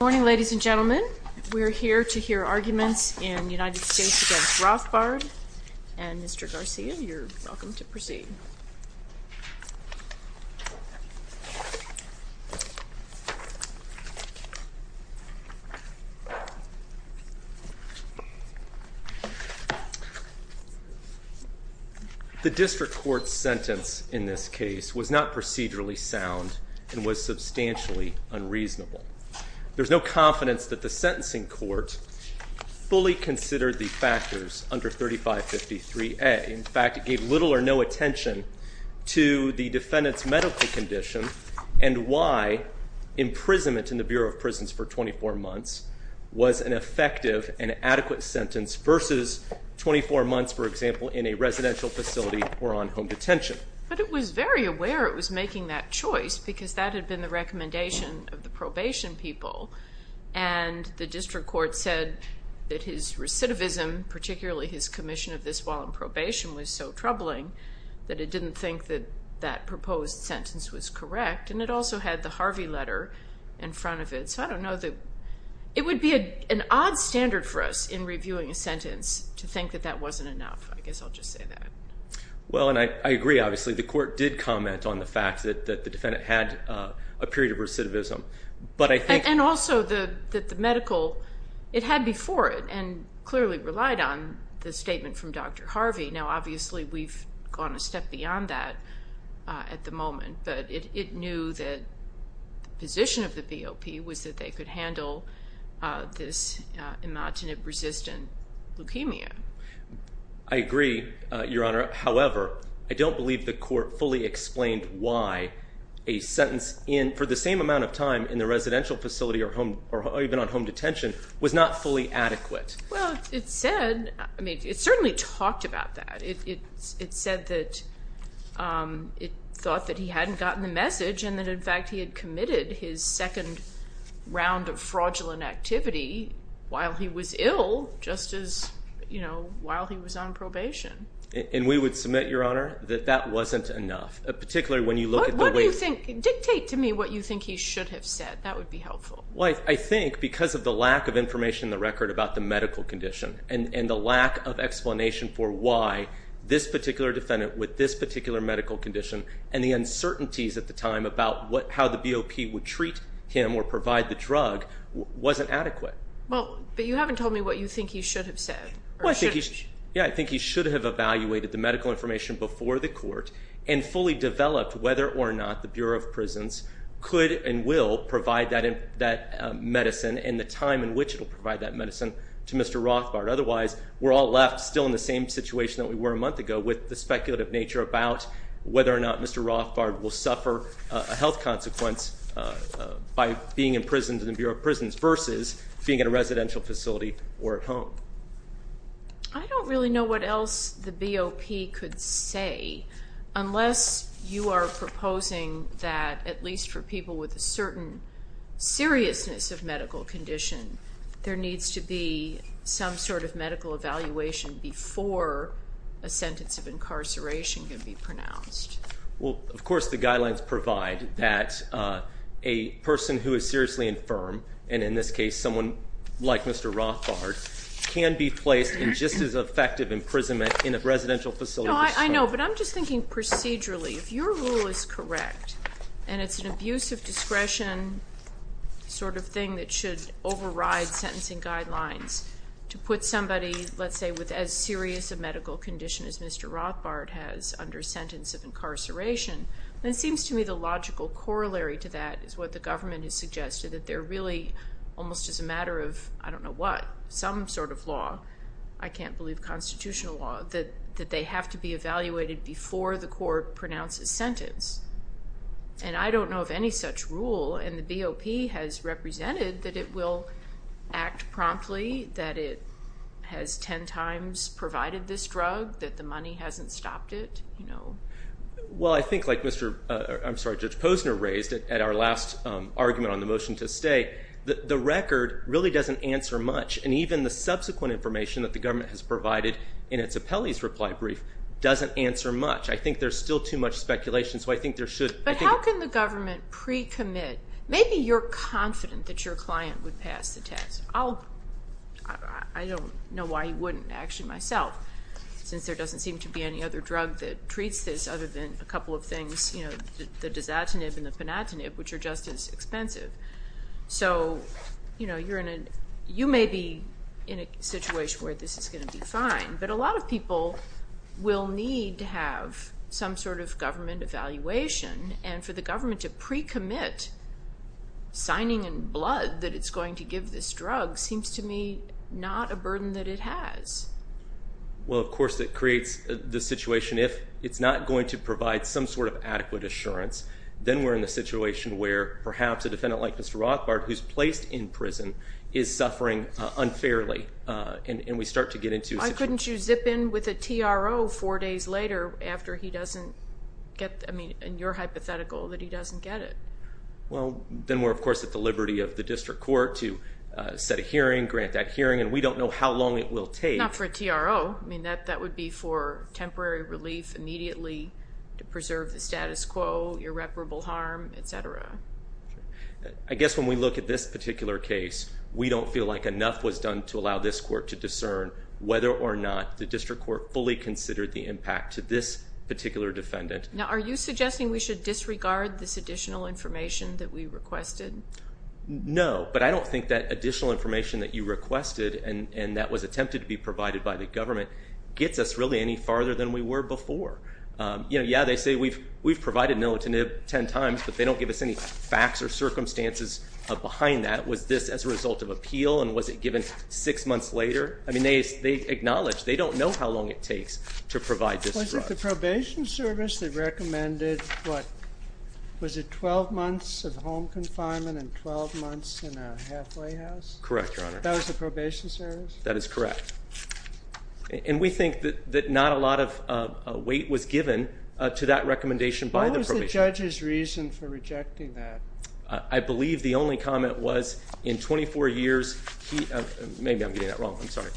Good morning, ladies and gentlemen. We're here to hear arguments in United States v. Rothbard, and Mr. Garcia, you're welcome to proceed. The district court's sentence in this case was not procedurally sound and was substantially unreasonable. There's no confidence that the sentencing court fully considered the factors under 3553A. In fact, it gave little or no attention to the defendant's medical condition and why imprisonment in the Bureau of Prisons for 24 months was an effective and adequate sentence versus 24 months, for example, in a residential facility or on home detention. But it was very aware it was making that choice because that had been the recommendation of the probation people. And the district court said that his recidivism, particularly his commission of this while in probation, was so troubling that it didn't think that that proposed sentence was correct. And it also had the Harvey letter in front of it. So I don't know that it would be an odd standard for us in reviewing a sentence to think that that wasn't enough. I guess I'll just say that. Well, and I agree, obviously. The court did comment on the fact that the defendant had a period of recidivism. And also that the medical, it had before it and clearly relied on the statement from Dr. Harvey. Now, obviously, we've gone a step beyond that at the moment. But it knew that the position of the BOP was that they could handle this imatinib-resistant leukemia. I agree, Your Honor. However, I don't believe the court fully explained why a sentence for the same amount of time in the residential facility or even on home detention was not fully adequate. Well, it said, I mean, it certainly talked about that. It said that it thought that he hadn't gotten the message and that, in fact, he had committed his second round of fraudulent activity while he was ill just as, you know, while he was on probation. And we would submit, Your Honor, that that wasn't enough, particularly when you look at the way- What do you think? Dictate to me what you think he should have said. That would be helpful. Well, I think because of the lack of information in the record about the medical condition and the lack of explanation for why this particular defendant with this particular medical condition and the uncertainties at the time about how the BOP would treat him or provide the drug wasn't adequate. Well, but you haven't told me what you think he should have said. Yeah, I think he should have evaluated the medical information before the court and fully developed whether or not the Bureau of Prisons could and will provide that medicine and the time in which it will provide that medicine to Mr. Rothbard. I don't really know what else the BOP could say unless you are proposing that, at least for people with a certain seriousness of medical condition, there needs to be some sort of medical evaluation before a sentence of incarceration can be pronounced. Well, of course the guidelines provide that a person who is seriously infirm, and in this case someone like Mr. Rothbard, can be placed in just as effective imprisonment in a residential facility. I know, but I'm just thinking procedurally. If your rule is correct and it's an abuse of discretion sort of thing that should override sentencing guidelines to put somebody, let's say, with as serious a medical condition as Mr. Rothbard has under sentence of incarceration, then it seems to me the logical corollary to that is what the government has suggested, that there really almost is a matter of, I don't know what, some sort of law, I can't believe constitutional law, that they have to be evaluated before the court pronounces sentence. And I don't know of any such rule, and the BOP has represented that it will act promptly, that it has ten times provided this drug, that the money hasn't stopped it. Well, I think like Judge Posner raised at our last argument on the motion to stay, the record really doesn't answer much, and even the subsequent information that the government has provided in its appellee's reply brief doesn't answer much. I think there's still too much speculation. But how can the government pre-commit? Maybe you're confident that your client would pass the test. I don't know why you wouldn't, actually, myself, since there doesn't seem to be any other drug that treats this other than a couple of things, the Dazatinib and the Panatinib, which are just as expensive. So you may be in a situation where this is going to be fine, but a lot of people will need to have some sort of government evaluation, and for the government to pre-commit signing in blood that it's going to give this drug seems to me not a burden that it has. Well, of course, it creates the situation if it's not going to provide some sort of adequate assurance, then we're in a situation where perhaps a defendant like Mr. Rothbard, who's placed in prison, is suffering unfairly, and we start to get into a situation. Why couldn't you zip in with a TRO four days later after he doesn't get, I mean, in your hypothetical, that he doesn't get it? Well, then we're, of course, at the liberty of the district court to set a hearing, grant that hearing, and we don't know how long it will take. Not for a TRO. I mean, that would be for temporary relief immediately to preserve the status quo, irreparable harm, et cetera. I guess when we look at this particular case, we don't feel like enough was done to allow this court to discern whether or not the district court fully considered the impact to this particular defendant. Now, are you suggesting we should disregard this additional information that we requested? No, but I don't think that additional information that you requested, and that was attempted to be provided by the government, gets us really any farther than we were before. You know, yeah, they say we've provided an inalternative ten times, but they don't give us any facts or circumstances behind that. Was this as a result of appeal, and was it given six months later? I mean, they acknowledge they don't know how long it takes to provide this. Was it the probation service that recommended, what, was it 12 months of home confinement and 12 months in a halfway house? Correct, Your Honor. That was the probation service? That is correct. And we think that not a lot of weight was given to that recommendation by the probation service. What was the judge's reason for rejecting that? I believe the only comment was, in 24 years, he, maybe I'm getting that wrong, I'm sorry.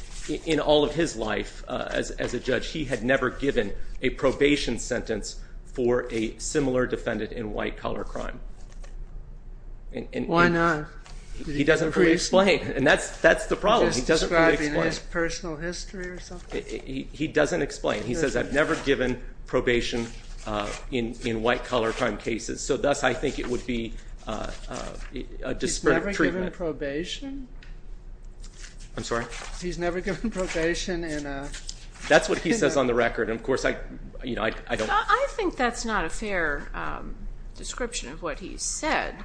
In all of his life as a judge, he had never given a probation sentence for a similar defendant in white-collar crime. Why not? He doesn't fully explain, and that's the problem. He doesn't fully explain. Just describing his personal history or something? He doesn't explain. He says, I've never given probation in white-collar crime cases. So, thus, I think it would be a disparate treatment. He's never given probation? I'm sorry? He's never given probation in a? That's what he says on the record, and, of course, I don't. I think that's not a fair description of what he said.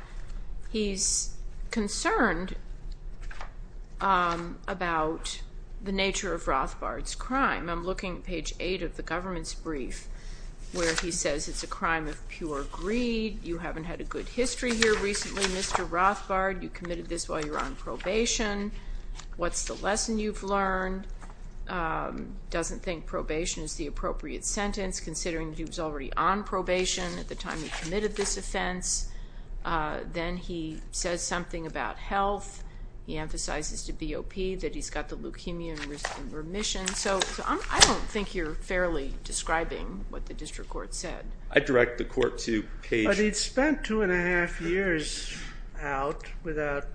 He's concerned about the nature of Rothbard's crime. I'm looking at page 8 of the government's brief, where he says it's a crime of pure greed. You haven't had a good history here recently, Mr. Rothbard. You committed this while you were on probation. What's the lesson you've learned? Doesn't think probation is the appropriate sentence, considering he was already on probation at the time he committed this offense. Then he says something about health. He emphasizes to BOP that he's got the leukemia and risk of remission. So I don't think you're fairly describing what the district court said. I direct the court to page? But he'd spent two and a half years out without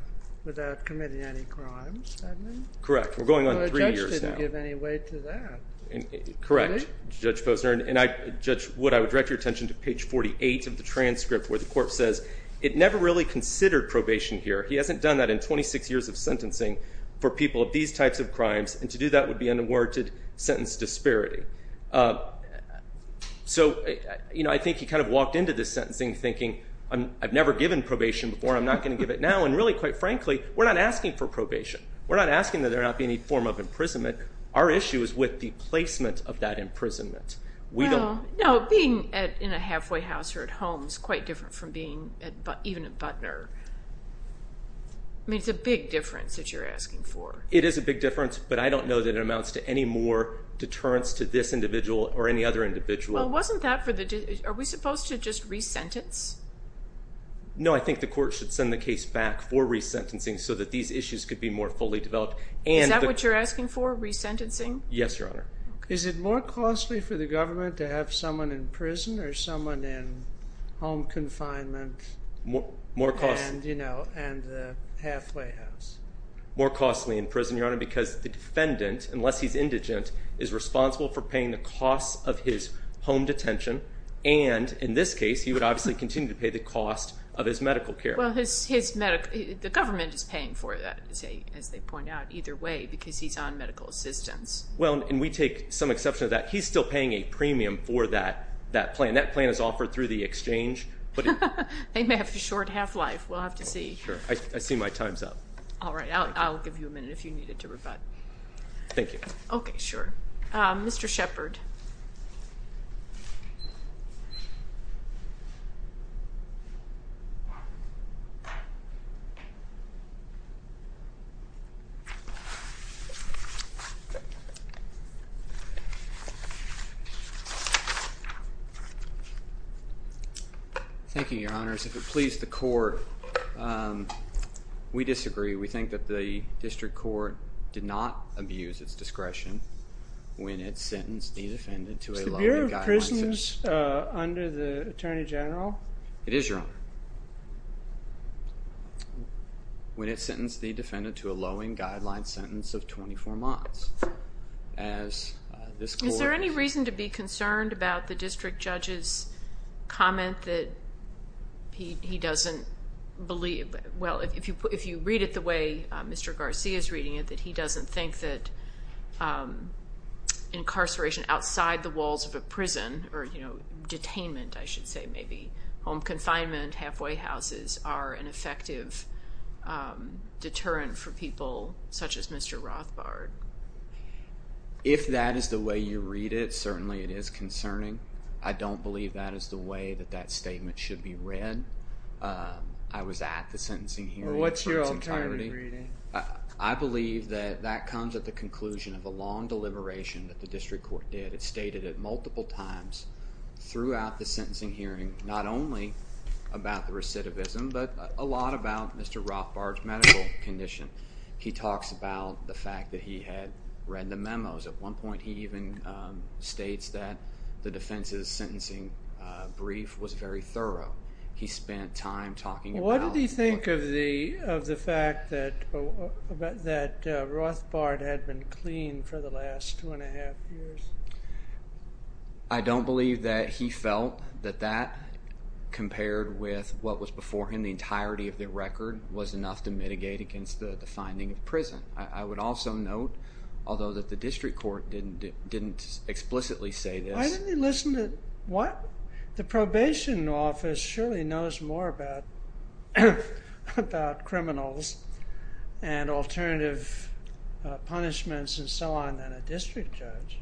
committing any crimes, hadn't he? Correct. We're going on three years now. The judge didn't give any weight to that. Correct, Judge Posner. And, Judge Wood, I would direct your attention to page 48 of the transcript, where the court says it never really considered probation here. He hasn't done that in 26 years of sentencing for people of these types of crimes. And to do that would be an unwarranted sentence disparity. So I think he kind of walked into this sentencing thinking, I've never given probation before. I'm not going to give it now. And really, quite frankly, we're not asking for probation. We're not asking that there not be any form of imprisonment. Our issue is with the placement of that imprisonment. No, being in a halfway house or at home is quite different from being even at Butner. I mean, it's a big difference that you're asking for. It is a big difference, but I don't know that it amounts to any more deterrence to this individual or any other individual. Well, wasn't that for the – are we supposed to just re-sentence? No, I think the court should send the case back for re-sentencing so that these issues could be more fully developed. Is that what you're asking for, re-sentencing? Yes, Your Honor. Is it more costly for the government to have someone in prison or someone in home confinement and the halfway house? More costly in prison, Your Honor, because the defendant, unless he's indigent, is responsible for paying the costs of his home detention. And in this case, he would obviously continue to pay the cost of his medical care. Well, the government is paying for that, as they point out, either way because he's on medical assistance. Well, and we take some exception to that. He's still paying a premium for that plan. That plan is offered through the exchange. They may have a short half-life. We'll have to see. Sure. I see my time's up. All right. I'll give you a minute if you need it to rebut. Thank you. Okay, sure. Mr. Shepard. Thank you, Your Honors. If it please the court, we disagree. We think that the district court did not abuse its discretion when it sentenced the defendant to a lowing guideline sentence. Is the Bureau of Prisons under the Attorney General? It is, Your Honor. When it sentenced the defendant to a lowing guideline sentence of 24 months. Is there any reason to be concerned about the district judge's comment that he doesn't believe? Well, if you read it the way Mr. Garcia is reading it, that he doesn't think that incarceration outside the walls of a prison or detainment, I should say, maybe home confinement, halfway houses, are an effective deterrent for people such as Mr. Rothbard. If that is the way you read it, certainly it is concerning. I don't believe that is the way that that statement should be read. I was at the sentencing hearing for its entirety. Well, what's your alternative reading? I believe that that comes at the conclusion of a long deliberation that the district court did. It stated it multiple times throughout the sentencing hearing, not only about the recidivism, but a lot about Mr. Rothbard's medical condition. He talks about the fact that he had read the memos. At one point, he even states that the defense's sentencing brief was very thorough. He spent time talking about... I don't believe that he felt that that, compared with what was before him, the entirety of the record was enough to mitigate against the finding of prison. I would also note, although that the district court didn't explicitly say this... Why didn't he listen to... what? The probation office surely knows more about criminals and alternative punishments and so on than a district judge.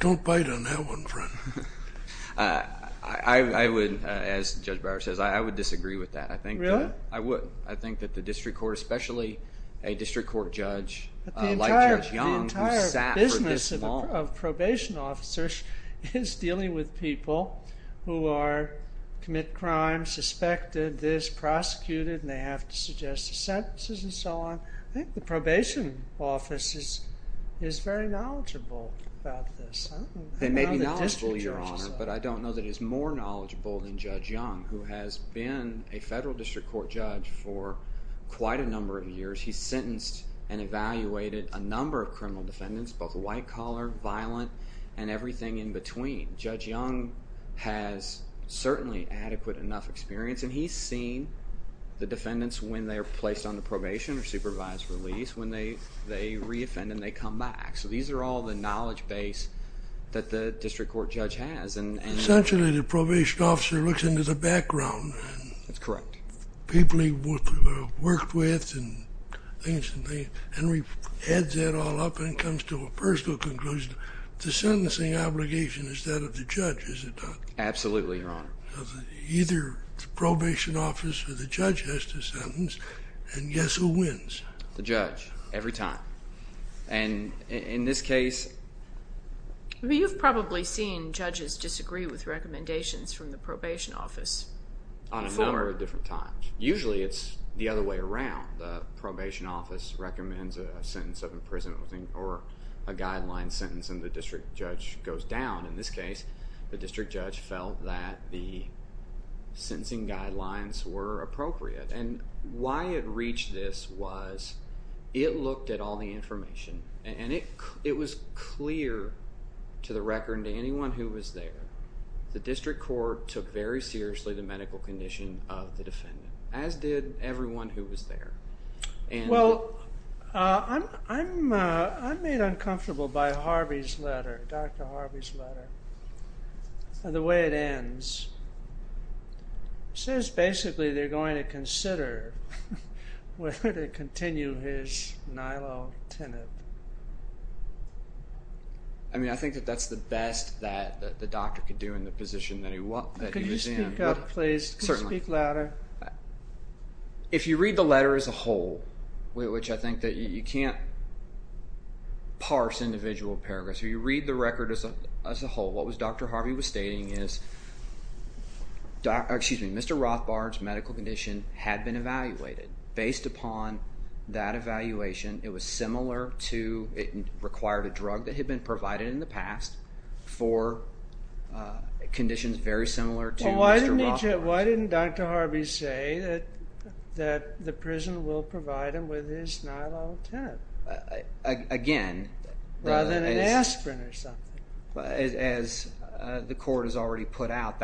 Don't bite on that one, friend. I would, as Judge Brower says, I would disagree with that. Really? I would. I think that the district court, especially a district court judge like Judge Young... The entire business of probation officers is dealing with people who commit crimes, suspected this, prosecuted, and they have to suggest sentences and so on. I think the probation office is very knowledgeable about this. They may be knowledgeable, Your Honor, but I don't know that it's more knowledgeable than Judge Young, who has been a federal district court judge for quite a number of years. He's sentenced and evaluated a number of criminal defendants, both white collar, violent, and everything in between. Judge Young has certainly adequate enough experience, and he's seen the defendants when they're placed under probation or supervised release, when they reoffend and they come back. So these are all the knowledge base that the district court judge has. Essentially, the probation officer looks into the background. That's correct. People he worked with and Henry adds that all up and comes to a personal conclusion. The sentencing obligation is that of the judge, is it not? Absolutely, Your Honor. Either the probation office or the judge has to sentence, and guess who wins? The judge, every time. And in this case? You've probably seen judges disagree with recommendations from the probation office. On a number of different times. Usually it's the other way around. The probation office recommends a sentence of imprisonment or a guideline sentence, and the district judge goes down. In this case, the district judge felt that the sentencing guidelines were appropriate, and why it reached this was it looked at all the information, and it was clear to the record and to anyone who was there, the district court took very seriously the medical condition of the defendant, as did everyone who was there. Well, I'm made uncomfortable by Harvey's letter, Dr. Harvey's letter, and the way it ends. It says basically they're going to consider whether to continue his nylotinib. I mean, I think that that's the best that the doctor could do in the position that he was in. Could you speak up, please? Certainly. Could you speak louder? If you read the letter as a whole, which I think that you can't parse individual paragraphs, if you read the record as a whole, what Dr. Harvey was stating is, excuse me, Mr. Rothbard's medical condition had been evaluated. Based upon that evaluation, it was similar to it required a drug that had been provided in the past for conditions very similar to Mr. Rothbard's. Why didn't Dr. Harvey say that the prison will provide him with his nylotinib? Again, as the court has already put out,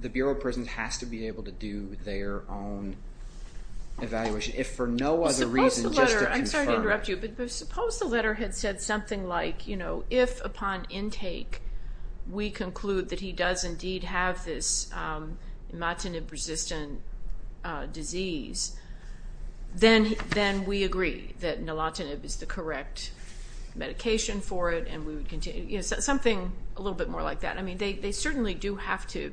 the Bureau of Prisons has to be able to do their own evaluation. If for no other reason just to confirm. I'm sorry to interrupt you, but suppose the letter had said something like, if upon intake we conclude that he does indeed have this nylotinib-resistant disease, then we agree that nylotinib is the correct medication for it and we would continue. Something a little bit more like that. I mean, they certainly do have to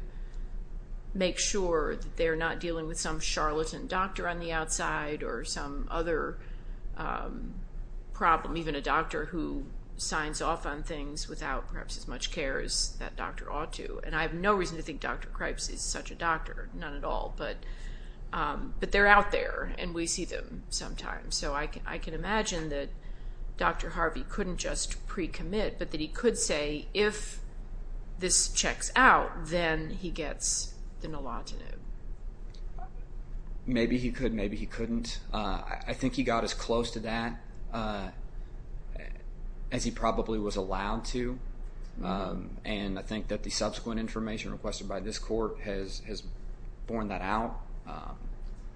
make sure that they're not dealing with some charlatan doctor on the outside or some other problem, even a doctor who signs off on things without perhaps as much care as that doctor ought to. And I have no reason to think Dr. Kripes is such a doctor, none at all, but they're out there and we see them sometimes. So I can imagine that Dr. Harvey couldn't just pre-commit, but that he could say, if this checks out, then he gets the nylotinib. Maybe he could, maybe he couldn't. I think he got as close to that as he probably was allowed to, and I think that the subsequent information requested by this Court has borne that out.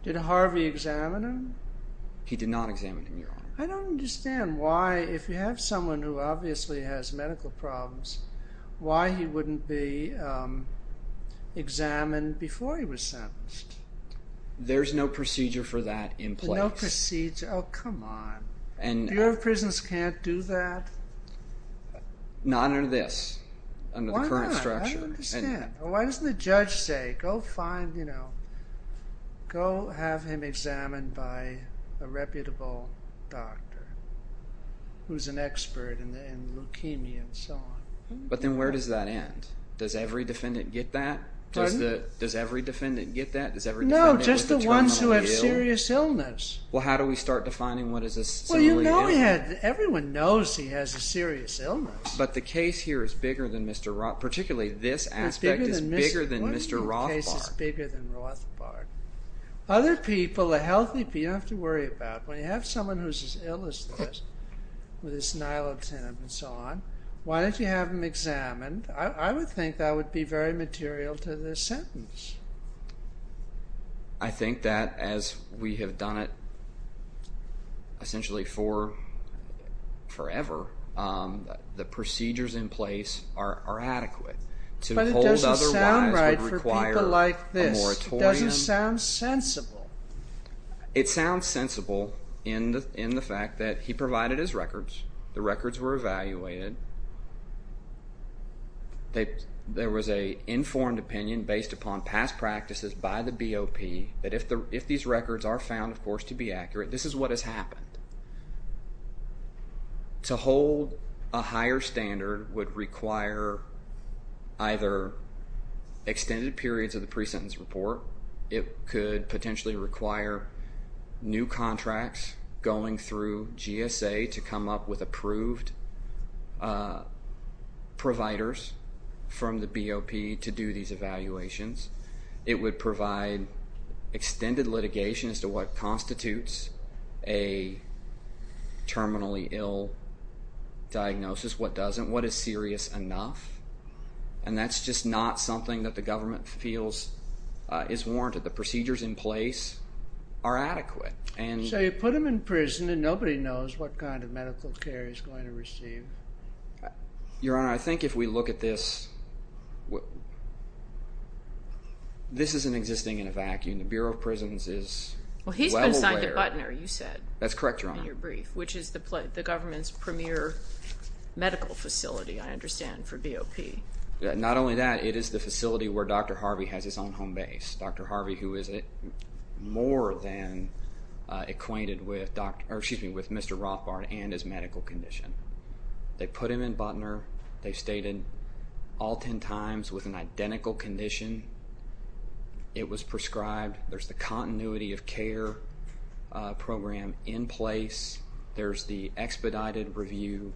Did Harvey examine him? He did not examine him, Your Honor. I don't understand why, if you have someone who obviously has medical problems, why he wouldn't be examined before he was sentenced? There's no procedure for that in place. No procedure? Oh, come on. Bureau of Prisons can't do that? Not under this, under the current structure. Why not? I don't understand. Why doesn't the judge say, go find, you know, go have him examined by a reputable doctor who's an expert in leukemia and so on? But then where does that end? Does every defendant get that? Pardon? Does every defendant get that? No, just the ones who have serious illness. Well, how do we start defining what is a serious illness? Well, you know he had, everyone knows he has a serious illness. But the case here is bigger than Mr. Rothbard, particularly this aspect is bigger than Mr. Rothbard. What do you mean the case is bigger than Rothbard? Other people, a healthy, you don't have to worry about it. When you have someone who's as ill as this with his nilatin and so on, why don't you have him examined? I would think that would be very material to this sentence. I think that as we have done it essentially for forever, the procedures in place are adequate. But it doesn't sound right for people like this. It doesn't sound sensible. It sounds sensible in the fact that he provided his records. The records were evaluated. There was an informed opinion based upon past practices by the BOP that if these records are found, of course, to be accurate, this is what has happened. To hold a higher standard would require either extended periods of the pre-sentence report. It could potentially require new contracts going through GSA to come up with approved providers from the BOP to do these evaluations. It would provide extended litigation as to what constitutes a terminally ill diagnosis, what doesn't, what is serious enough. And that's just not something that the government feels is warranted. The procedures in place are adequate. So you put him in prison and nobody knows what kind of medical care he's going to receive. Your Honor, I think if we look at this, this isn't existing in a vacuum. The Bureau of Prisons is well aware. Well, he's been signed to Butner, you said. That's correct, Your Honor. Which is the government's premier medical facility, I understand, for BOP. Not only that, it is the facility where Dr. Harvey has his own home base. Dr. Harvey, who is more than acquainted with Mr. Rothbard and his medical condition. They put him in Butner. They stayed in all 10 times with an identical condition. It was prescribed. There's the continuity of care program in place. There's the expedited review.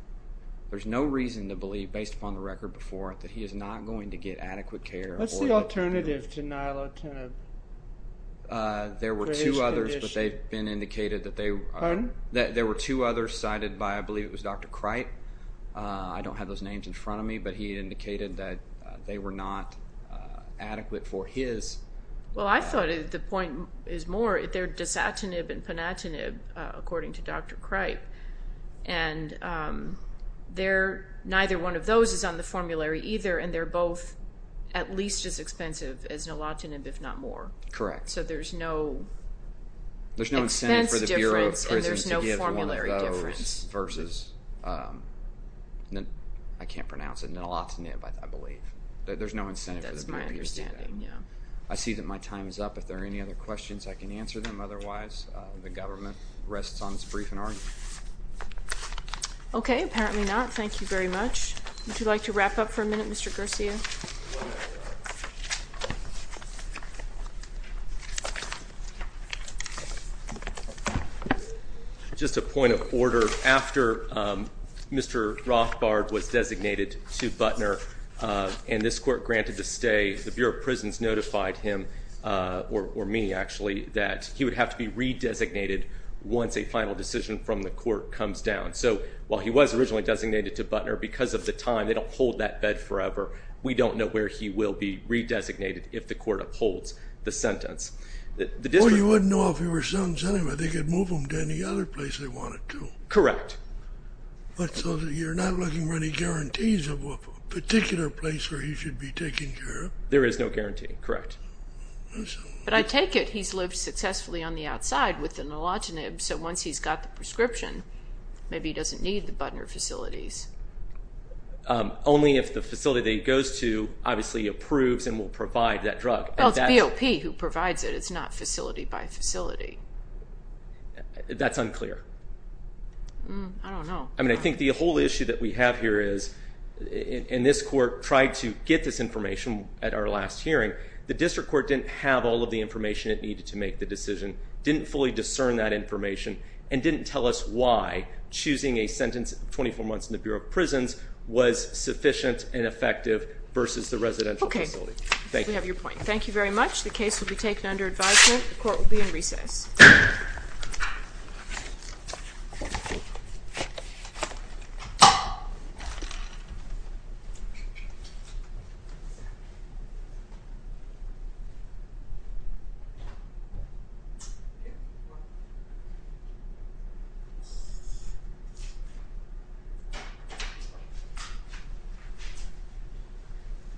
There's no reason to believe, based upon the record before it, that he is not going to get adequate care. What's the alternative to nilotinib? There were two others, but they've been indicated that they were. Pardon? There were two others cited by, I believe it was Dr. Cripe. I don't have those names in front of me, but he indicated that they were not adequate for his. Well, I thought the point is more, they're dasatinib and panatinib, according to Dr. Cripe. And neither one of those is on the formulary either, and they're both at least as expensive as nilotinib, if not more. Correct. So there's no expense difference and there's no formulary difference. Versus, I can't pronounce it, nilotinib, I believe. There's no incentive for the BOP to do that. I see that my time is up. If there are any other questions, I can answer them. Otherwise, the government rests on its brief and argument. Okay, apparently not. Thank you very much. Would you like to wrap up for a minute, Mr. Garcia? Just a point of order. After Mr. Rothbard was designated to Butner and this court granted the stay, the Bureau of Prisons notified him, or me actually, that he would have to be redesignated once a final decision from the court comes down. So while he was originally designated to Butner, because of the time, they don't hold that bed forever. We don't know where he will be redesignated if the court upholds the sentence. Well, you wouldn't know if he were sentenced anyway. They could move him to any other place they wanted to. Correct. So you're not looking for any guarantees of a particular place where he should be taken care of? There is no guarantee. Correct. But I take it he's lived successfully on the outside with the nilotinib, so once he's got the prescription, maybe he doesn't need the Butner facilities. Only if the facility that he goes to obviously approves and will provide that drug. Well, it's BOP who provides it. It's not facility by facility. That's unclear. I don't know. I mean, I think the whole issue that we have here is, and this court tried to get this information at our last hearing, the district court didn't have all of the information it needed to make the decision, didn't fully discern that information, and didn't tell us why choosing a sentence of 24 months in the Bureau of Prisons was sufficient and effective versus the residential facility. I think we have your point. Thank you very much. The case will be taken under advisement. The court will be in recess.